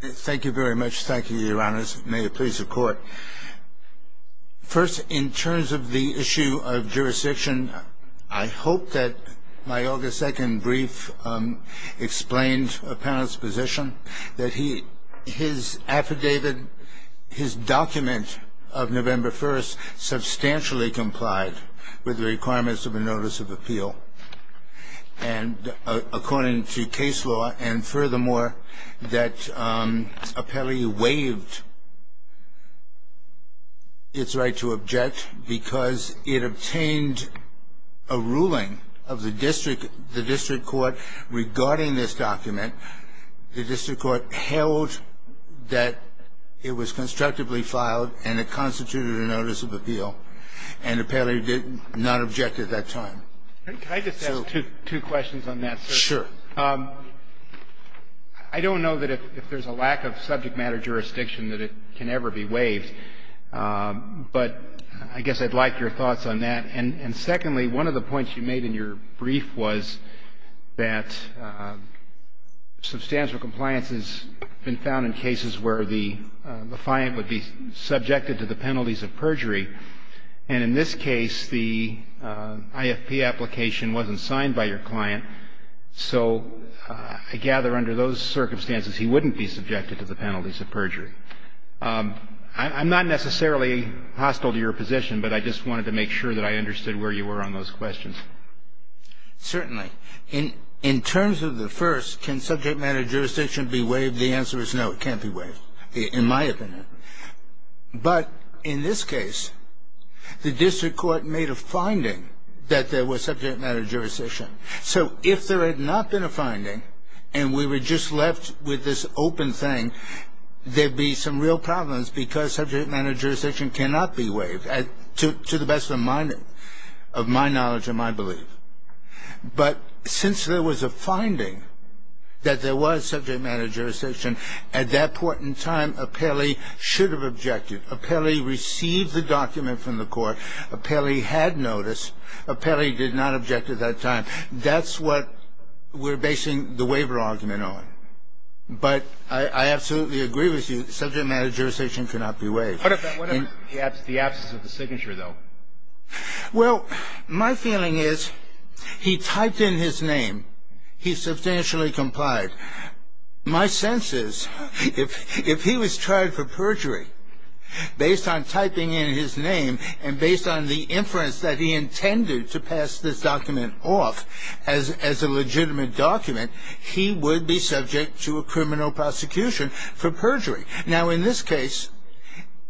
Thank you very much. Thank you, Your Honors. May it please the Court. First, in terms of the issue of jurisdiction, I hope that my August 2nd brief explained a panelist's position, that his affidavit, his document of November 1st, substantially complied with the requirements of a Notice of Appeal, and according to case law, and furthermore, that apparently waived its right to object, because it obtained a ruling of the district court regarding this document. The district court held that it was constructively filed and it constituted a Notice of Appeal, and apparently did not object at that time. Could I just ask two questions on that, sir? Sure. I don't know that if there's a lack of subject matter jurisdiction that it can ever be waived, but I guess I'd like your thoughts on that. And secondly, one of the points you made in your brief was that substantial compliance has been found in cases where the client would be subjected to the penalties of perjury. And in this case, the IFP application wasn't signed by your client, so I gather under those circumstances he wouldn't be subjected to the penalties of perjury. I'm not necessarily hostile to your position, but I just wanted to make sure that I understood where you were on those questions. Certainly. In terms of the first, can subject matter jurisdiction be waived? The answer is no, it can't be waived, in my opinion. But in this case, the district court made a finding that there was subject matter jurisdiction. So if there had not been a finding and we were just left with this open thing, there'd be some real problems because subject matter jurisdiction cannot be waived, to the best of my knowledge and my belief. But since there was a finding that there was subject matter jurisdiction, at that point in time, Apelli should have objected. Apelli received the document from the court. Apelli had notice. Apelli did not object at that time. That's what we're basing the waiver argument on. But I absolutely agree with you. Subject matter jurisdiction cannot be waived. What about the absence of the signature, though? Well, my feeling is he typed in his name. He substantially complied. But my sense is if he was tried for perjury based on typing in his name and based on the inference that he intended to pass this document off as a legitimate document, he would be subject to a criminal prosecution for perjury. Now, in this case,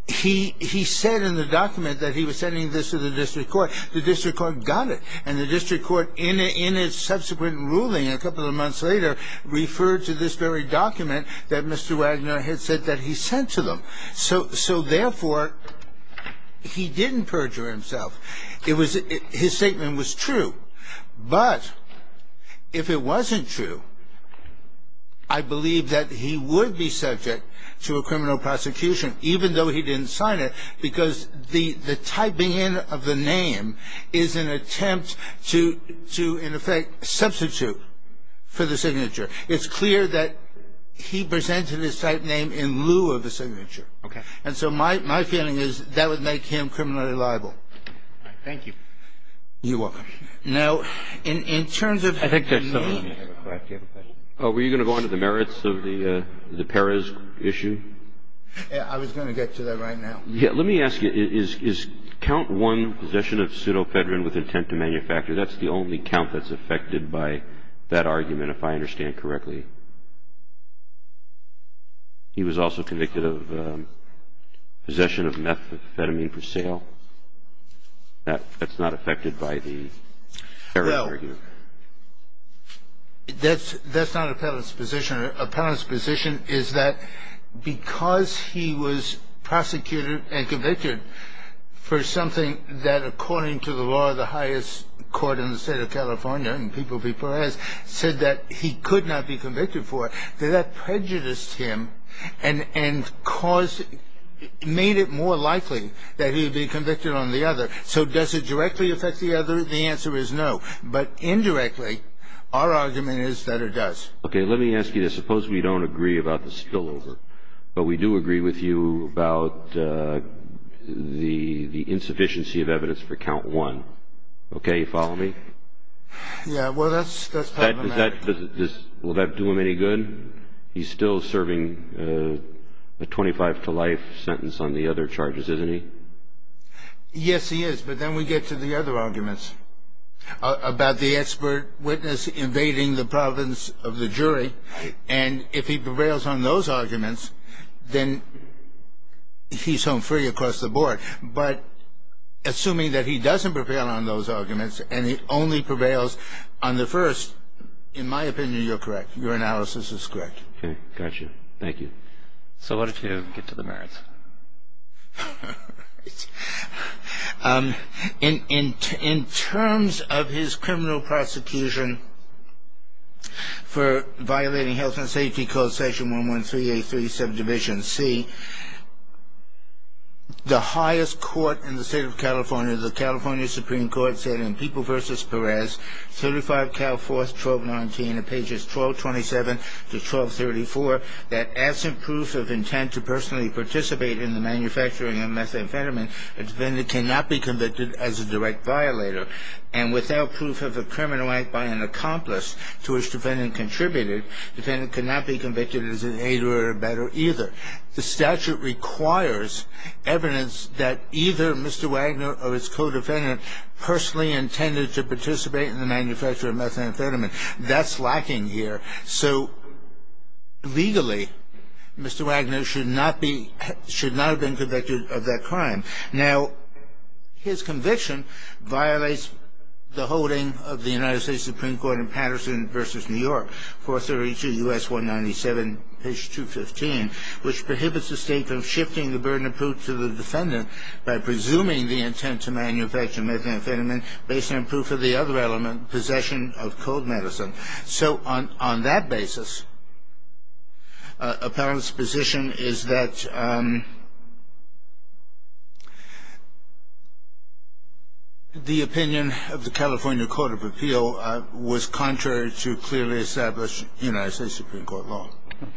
he said in the document that he was sending this to the district court. The district court got it. And the district court, in its subsequent ruling a couple of months later, referred to this very document that Mr. Wagner had said that he sent to them. So, therefore, he didn't perjure himself. His statement was true. But if it wasn't true, I believe that he would be subject to a criminal prosecution, even though he didn't sign it, because the typing in of the name is an attempt to, in effect, substitute for the signature. It's clear that he presented his type name in lieu of the signature. Okay. And so my feeling is that would make him criminally liable. All right. Thank you. You're welcome. Now, in terms of the name. Were you going to go on to the merits of the Perez issue? Yeah. I was going to get to that right now. Yeah. Let me ask you. Is count one, possession of pseudofedrin with intent to manufacture, that's the only count that's affected by that argument, if I understand correctly? He was also convicted of possession of methamphetamine for sale. That's not affected by the Perez argument. Well, that's not appellant's position. Appellant's position is that because he was prosecuted and convicted for something that, according to the law, the highest court in the state of California, in People v. Perez, said that he could not be convicted for, that that prejudiced him and made it more likely that he would be convicted on the other. So does it directly affect the other? The answer is no. But indirectly, our argument is that it does. Okay. Let me ask you this. Suppose we don't agree about the spillover, but we do agree with you about the insufficiency of evidence for count one. Okay. You follow me? Yeah. Well, that's part of the matter. Will that do him any good? He's still serving a 25 to life sentence on the other charges, isn't he? Yes, he is. But then we get to the other arguments about the expert witness invading the providence of the jury. And if he prevails on those arguments, then he's home free across the board. But assuming that he doesn't prevail on those arguments and he only prevails on the first, in my opinion, you're correct. Your analysis is correct. Okay. Got you. Thank you. So what did you get to the merits? In terms of his criminal prosecution for violating Health and Safety Code Section 113837, Division C, the highest court in the state of California, the California Supreme Court, said in People v. Perez, 35 Cal 4, 1219, pages 1227 to 1234, that absent proof of intent to personally participate in the manufacturing of methamphetamine, a defendant cannot be convicted as a direct violator. And without proof of a criminal act by an accomplice to which the defendant contributed, the defendant cannot be convicted as an aider or abetter either. The statute requires evidence that either Mr. Wagner or his co-defendant personally intended to participate in the manufacture of methamphetamine. That's lacking here. So legally, Mr. Wagner should not be, should not have been convicted of that crime. Now, his conviction violates the holding of the United States Supreme Court in Patterson v. New York, 432 U.S. 197, page 215, which prohibits the state from shifting the burden of proof to the defendant by presuming the intent to manufacture methamphetamine based on proof of the other element, possession of cold medicine. So on that basis, appellant's position is that the opinion of the California Court of Appeal was contrary to clearly established United States Supreme Court law. Okay.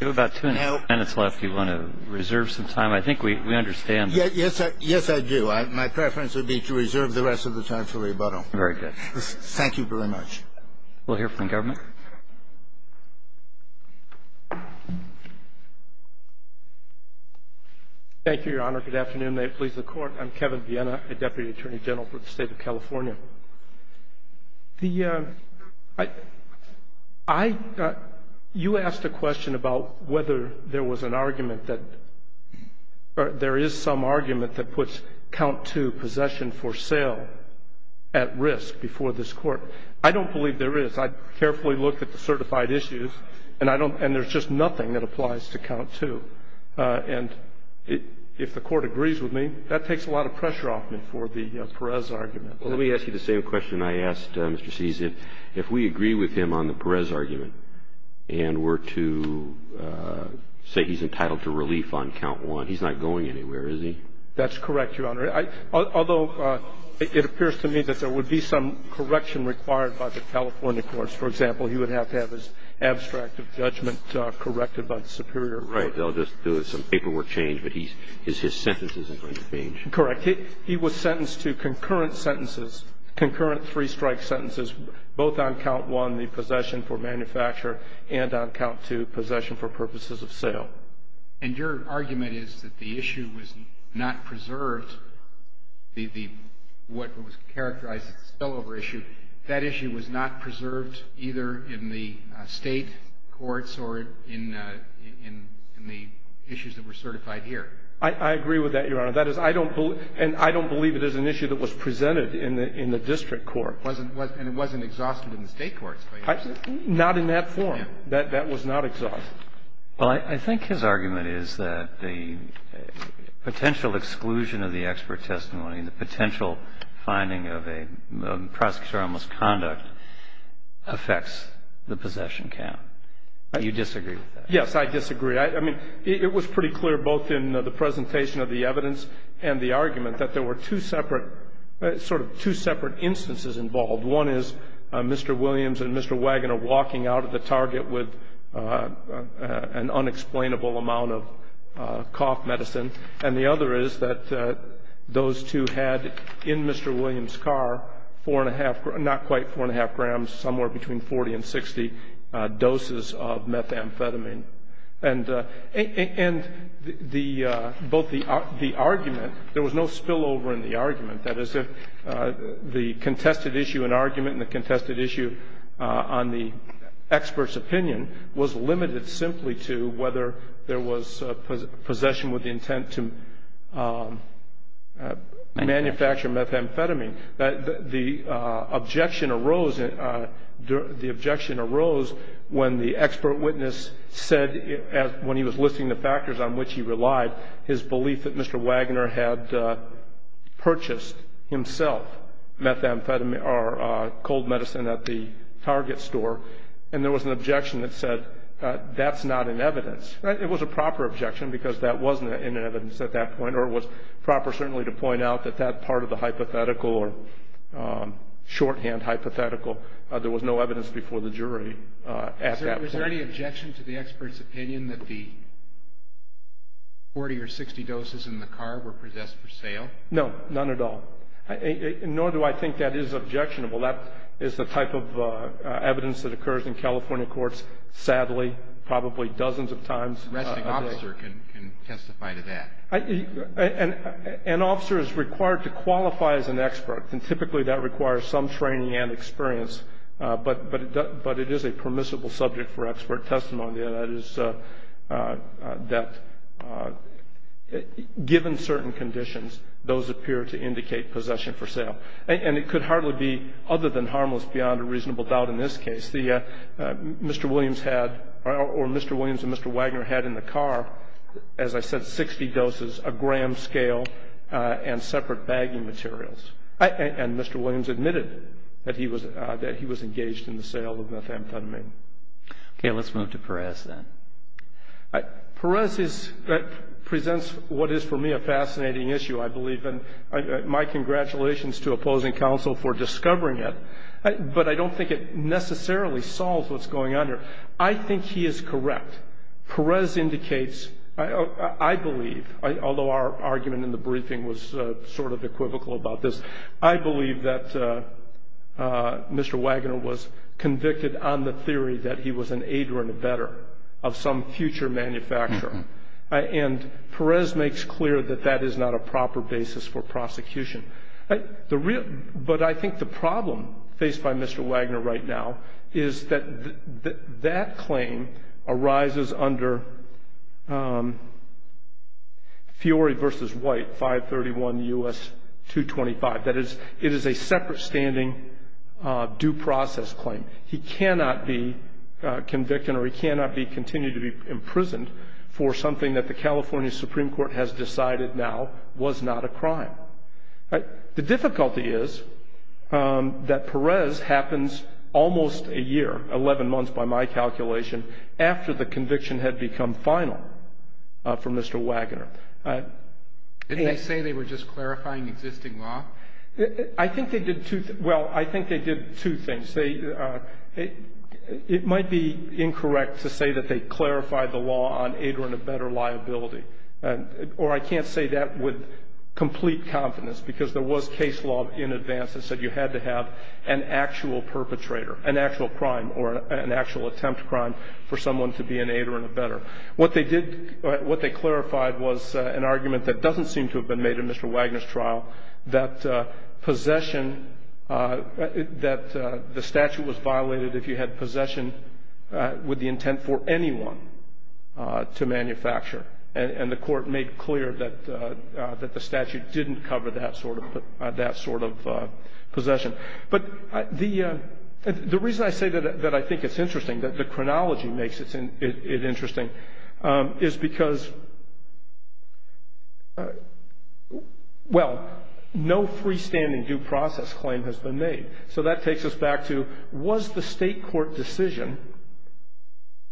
We have about two and a half minutes left. Do you want to reserve some time? I think we understand. Yes, I do. My preference would be to reserve the rest of the time for rebuttal. Very good. Thank you very much. We'll hear from government. Thank you, Your Honor. Good afternoon. May it please the Court. I'm Kevin Vienna, a Deputy Attorney General for the State of California. The — I — you asked a question about whether there was an argument that — or there is some argument that puts count two, possession for sale, at risk before this Court. I don't believe there is. I carefully looked at the certified issues, and I don't — and there's just nothing that applies to count two. And if the Court agrees with me, that takes a lot of pressure off me for the Perez argument. Well, let me ask you the same question I asked Mr. Sees. If we agree with him on the Perez argument and were to say he's entitled to relief on count one, he's not going anywhere, is he? That's correct, Your Honor. I — although it appears to me that there would be some correction required by the California courts. For example, he would have to have his abstract of judgment corrected by the Superior Court. Right. They'll just do some paperwork change, but he's — his sentence isn't going to change. Correct. He was sentenced to concurrent sentences, concurrent three-strike sentences, both on count one, the possession for manufacture, and on count two, possession for purposes of sale. And your argument is that the issue was not preserved, the — what was characterized as a spillover issue, that issue was not preserved either in the State courts or in the issues that were certified here. I agree with that, Your Honor. That is, I don't believe — and I don't believe it is an issue that was presented in the district court. And it wasn't exhausted in the State courts, by any chance? Not in that form. That was not exhausted. Well, I think his argument is that the potential exclusion of the expert testimony and the potential finding of a prosecutor on misconduct affects the possession count. Do you disagree with that? Yes, I disagree. I mean, it was pretty clear, both in the presentation of the evidence and the argument, that there were two separate — sort of two separate instances involved. One is Mr. Williams and Mr. Wagoner walking out of the Target with an unexplainable amount of cough medicine, and the other is that those two had in Mr. Williams' car four-and-a-half — not quite four-and-a-half grams, somewhere between 40 and 60 doses of methamphetamine. And both the argument — there was no spillover in the argument. That is, the contested issue in argument and the contested issue on the expert's opinion was limited simply to whether there was possession with the intent to manufacture methamphetamine. The objection arose when the expert witness said, when he was listing the factors on which he relied, his belief that Mr. Wagoner had purchased himself cold medicine at the Target store, and there was an objection that said that's not in evidence. It was a proper objection because that wasn't in evidence at that point, or it was proper certainly to point out that that part of the hypothetical or shorthand hypothetical, there was no evidence before the jury at that point. Was there any objection to the expert's opinion that the 40 or 60 doses in the car were possessed for sale? No, none at all. Nor do I think that is objectionable. That is the type of evidence that occurs in California courts, sadly, probably dozens of times a day. I don't think an officer can testify to that. An officer is required to qualify as an expert, and typically that requires some training and experience. But it is a permissible subject for expert testimony, and that is that given certain conditions, those appear to indicate possession for sale. And it could hardly be other than harmless beyond a reasonable doubt in this case. Mr. Williams had or Mr. Williams and Mr. Wagner had in the car, as I said, 60 doses of gram scale and separate bagging materials. And Mr. Williams admitted that he was engaged in the sale of methamphetamine. Okay. Let's move to Perez then. Perez presents what is for me a fascinating issue, I believe, and my congratulations to opposing counsel for discovering it. But I don't think it necessarily solves what's going on here. I think he is correct. Perez indicates, I believe, although our argument in the briefing was sort of equivocal about this, I believe that Mr. Wagner was convicted on the theory that he was an aider and abetter of some future manufacturer. And Perez makes clear that that is not a proper basis for prosecution. But I think the problem faced by Mr. Wagner right now is that that claim arises under Fiore v. White, 531 U.S. 225. That is, it is a separate standing due process claim. He cannot be convicted or he cannot continue to be imprisoned for something that the California Supreme Court has decided now was not a crime. The difficulty is that Perez happens almost a year, 11 months by my calculation, after the conviction had become final for Mr. Wagner. Didn't they say they were just clarifying existing law? I think they did two things. Well, I think they did two things. It might be incorrect to say that they clarified the law on aider and abetter liability, or I can't say that with complete confidence because there was case law in advance that said you had to have an actual perpetrator, an actual crime or an actual attempt crime for someone to be an aider and abetter. What they did, what they clarified was an argument that doesn't seem to have been made in Mr. Wagner's trial, that possession, that the statute was violated if you had possession with the intent for anyone to manufacture. And the Court made clear that the statute didn't cover that sort of possession. But the reason I say that I think it's interesting, that the chronology makes it interesting, is because, well, no freestanding due process claim has been made. So that takes us back to was the state court decision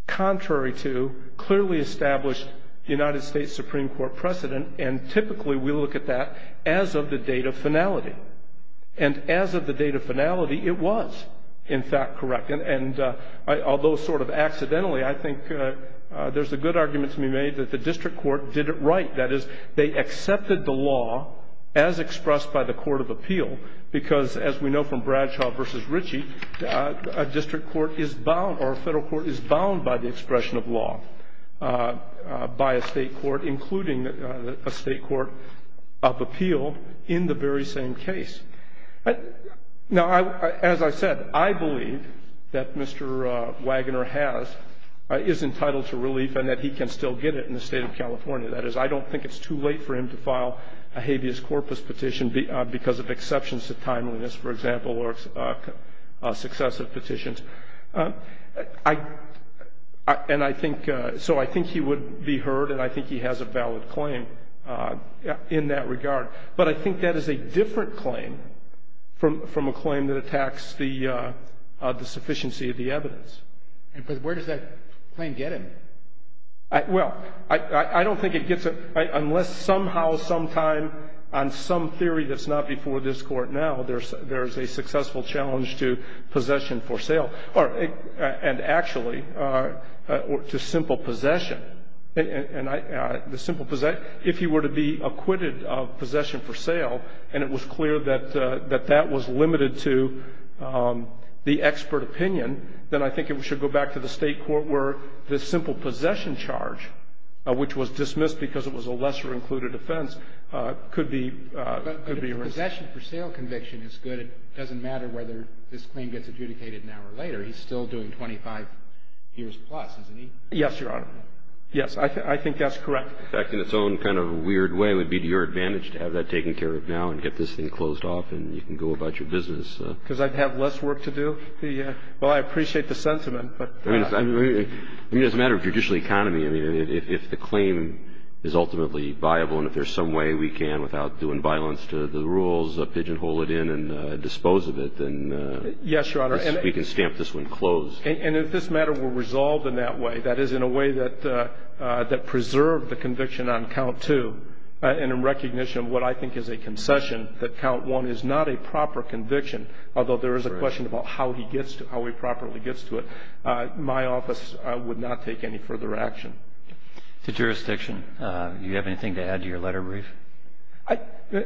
contrary to clearly established United States Supreme Court precedent? And typically we look at that as of the date of finality. And as of the date of finality, it was, in fact, correct. And although sort of accidentally, I think there's a good argument to be made that the district court did it right. That is, they accepted the law as expressed by the court of appeal, because as we know from Bradshaw v. Ritchie, a district court is bound or a federal court is bound by the expression of law by a state court, including a state court of appeal in the very same case. Now, as I said, I believe that Mr. Wagner has, is entitled to relief and that he can still get it in the State of California. That is, I don't think it's too late for him to file a habeas corpus petition because of exceptions to timeliness, for example, or successive petitions. And I think, so I think he would be heard and I think he has a valid claim in that regard. But I think that is a different claim from a claim that attacks the sufficiency of the evidence. And where does that claim get him? Well, I don't think it gets him, unless somehow, sometime, on some theory that's not before this court now, there's a successful challenge to possession for sale, and actually to simple possession. And the simple possession, if he were to be acquitted of possession for sale, and it was clear that that was limited to the expert opinion, then I think it should go back to the state court where the simple possession charge, which was dismissed because it was a lesser-included offense, could be a risk. But if possession for sale conviction is good, it doesn't matter whether this claim gets adjudicated now or later. He's still doing 25 years plus, isn't he? Yes, Your Honor. Yes, I think that's correct. In fact, in its own kind of weird way, it would be to your advantage to have that taken care of now and get this thing closed off and you can go about your business. Because I'd have less work to do? Well, I appreciate the sentiment. I mean, it's a matter of judicial economy. I mean, if the claim is ultimately viable and if there's some way we can, without doing violence to the rules, pigeonhole it in and dispose of it, then we can stamp this one closed. Yes, Your Honor. And if this matter were resolved in that way, that is, in a way that preserved the conviction on Count 2, and in recognition of what I think is a concession, that Count 1 is not a proper conviction, although there is a question about how he gets to it, how he properly gets to it, my office would not take any further action. To jurisdiction, do you have anything to add to your letter, Reeve?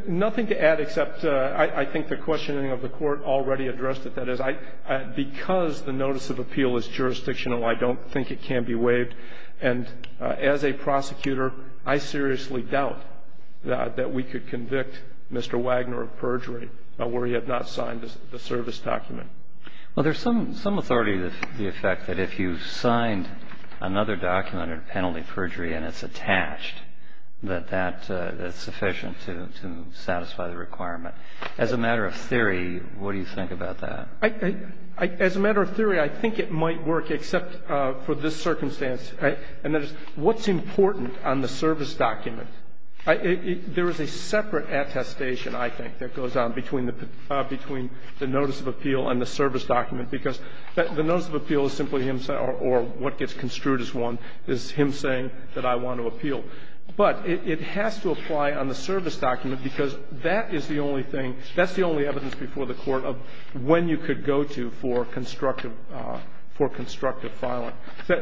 Nothing to add except I think the questioning of the Court already addressed it. That is, because the notice of appeal is jurisdictional, I don't think it can be waived. And as a prosecutor, I seriously doubt that we could convict Mr. Wagner of perjury where he had not signed the service document. Well, there's some authority to the effect that if you signed another document in penalty perjury and it's attached, that that's sufficient to satisfy the requirement. As a matter of theory, what do you think about that? As a matter of theory, I think it might work, except for this circumstance. And that is, what's important on the service document? There is a separate attestation, I think, that goes on between the notice of appeal and the service document, because the notice of appeal is simply him saying, or what gets construed as one, is him saying that I want to appeal. But it has to apply on the service document because that is the only thing, that's the only evidence before the Court of when you could go to for constructive ‑‑ for constructive filing.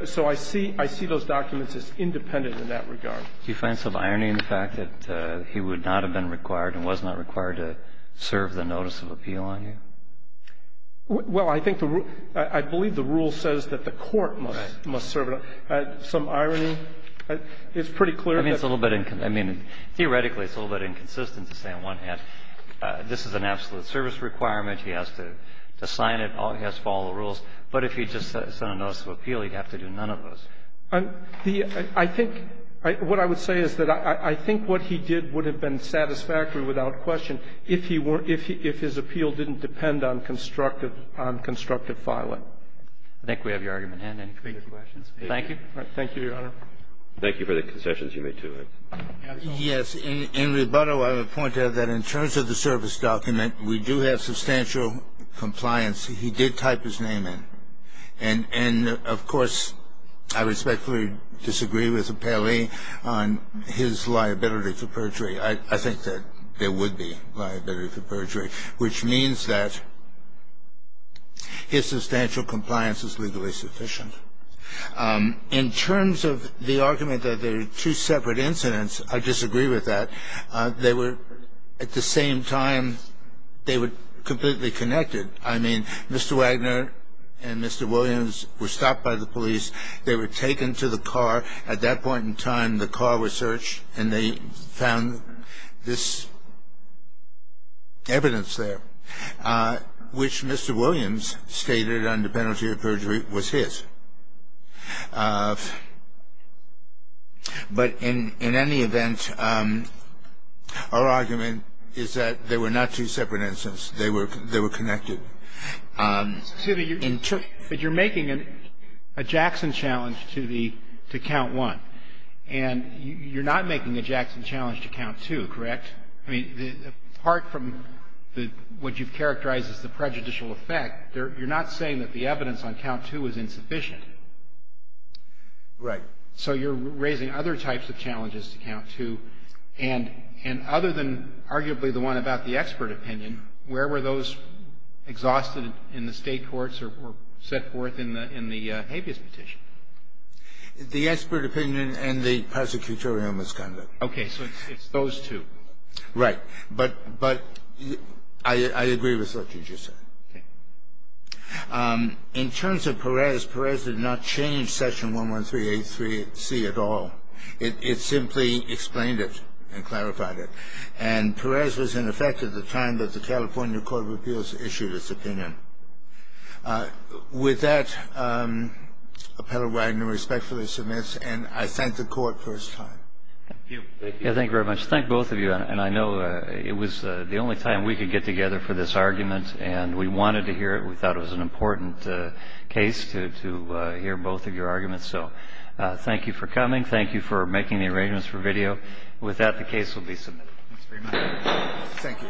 So I see those documents as independent in that regard. Do you find some irony in the fact that he would not have been required and was not required to serve the notice of appeal on you? Well, I think the rule ‑‑ I believe the rule says that the Court must serve it. Some irony? It's pretty clear that ‑‑ I mean, it's a little bit ‑‑ I mean, theoretically, it's a little bit inconsistent to say on one hand, this is an absolute service requirement. He has to sign it. He has to follow the rules. But if he just sent a notice of appeal, he'd have to do none of those. The ‑‑ I think ‑‑ what I would say is that I think what he did would have been satisfactory without question if he were ‑‑ if his appeal didn't depend on constructive ‑‑ on constructive filing. I think we have your argument. Any further questions? Thank you. Thank you, Your Honor. Thank you for the concessions you made, too. Yes. In rebuttal, I would point out that in terms of the service document, we do have substantial compliance. He did type his name in. And, of course, I respectfully disagree with Appelli on his liability for perjury. I think that there would be liability for perjury, which means that his substantial compliance is legally sufficient. In terms of the argument that there are two separate incidents, I disagree with that. They were, at the same time, they were completely connected. I mean, Mr. Wagner and Mr. Williams were stopped by the police. They were taken to the car. At that point in time, the car was searched, and they found this evidence there, which Mr. Williams stated under penalty of perjury was his. But in any event, our argument is that they were not two separate incidents. They were connected. But you're making a Jackson challenge to the ‑‑ to count one. And you're not making a Jackson challenge to count two, correct? I mean, apart from what you've characterized as the prejudicial effect, you're not saying that the evidence on count two is insufficient. Right. So you're raising other types of challenges to count two. And other than arguably the one about the expert opinion, where were those exhausted in the State courts or set forth in the habeas petition? The expert opinion and the prosecutorial misconduct. Okay. So it's those two. Right. But I agree with what you just said. Okay. In terms of Perez, Perez did not change Session 11383C at all. It simply explained it and clarified it. And Perez was in effect at the time that the California Court of Appeals issued its opinion. With that, Appellant Wagner respectfully submits, and I thank the Court for its time. Thank you. Thank you very much. Thank both of you. And I know it was the only time we could get together for this argument, and we wanted to hear it. We thought it was an important case to hear both of your arguments. So thank you for coming. Thank you for making the arrangements for video. With that, the case will be submitted. Thank you. Thank you.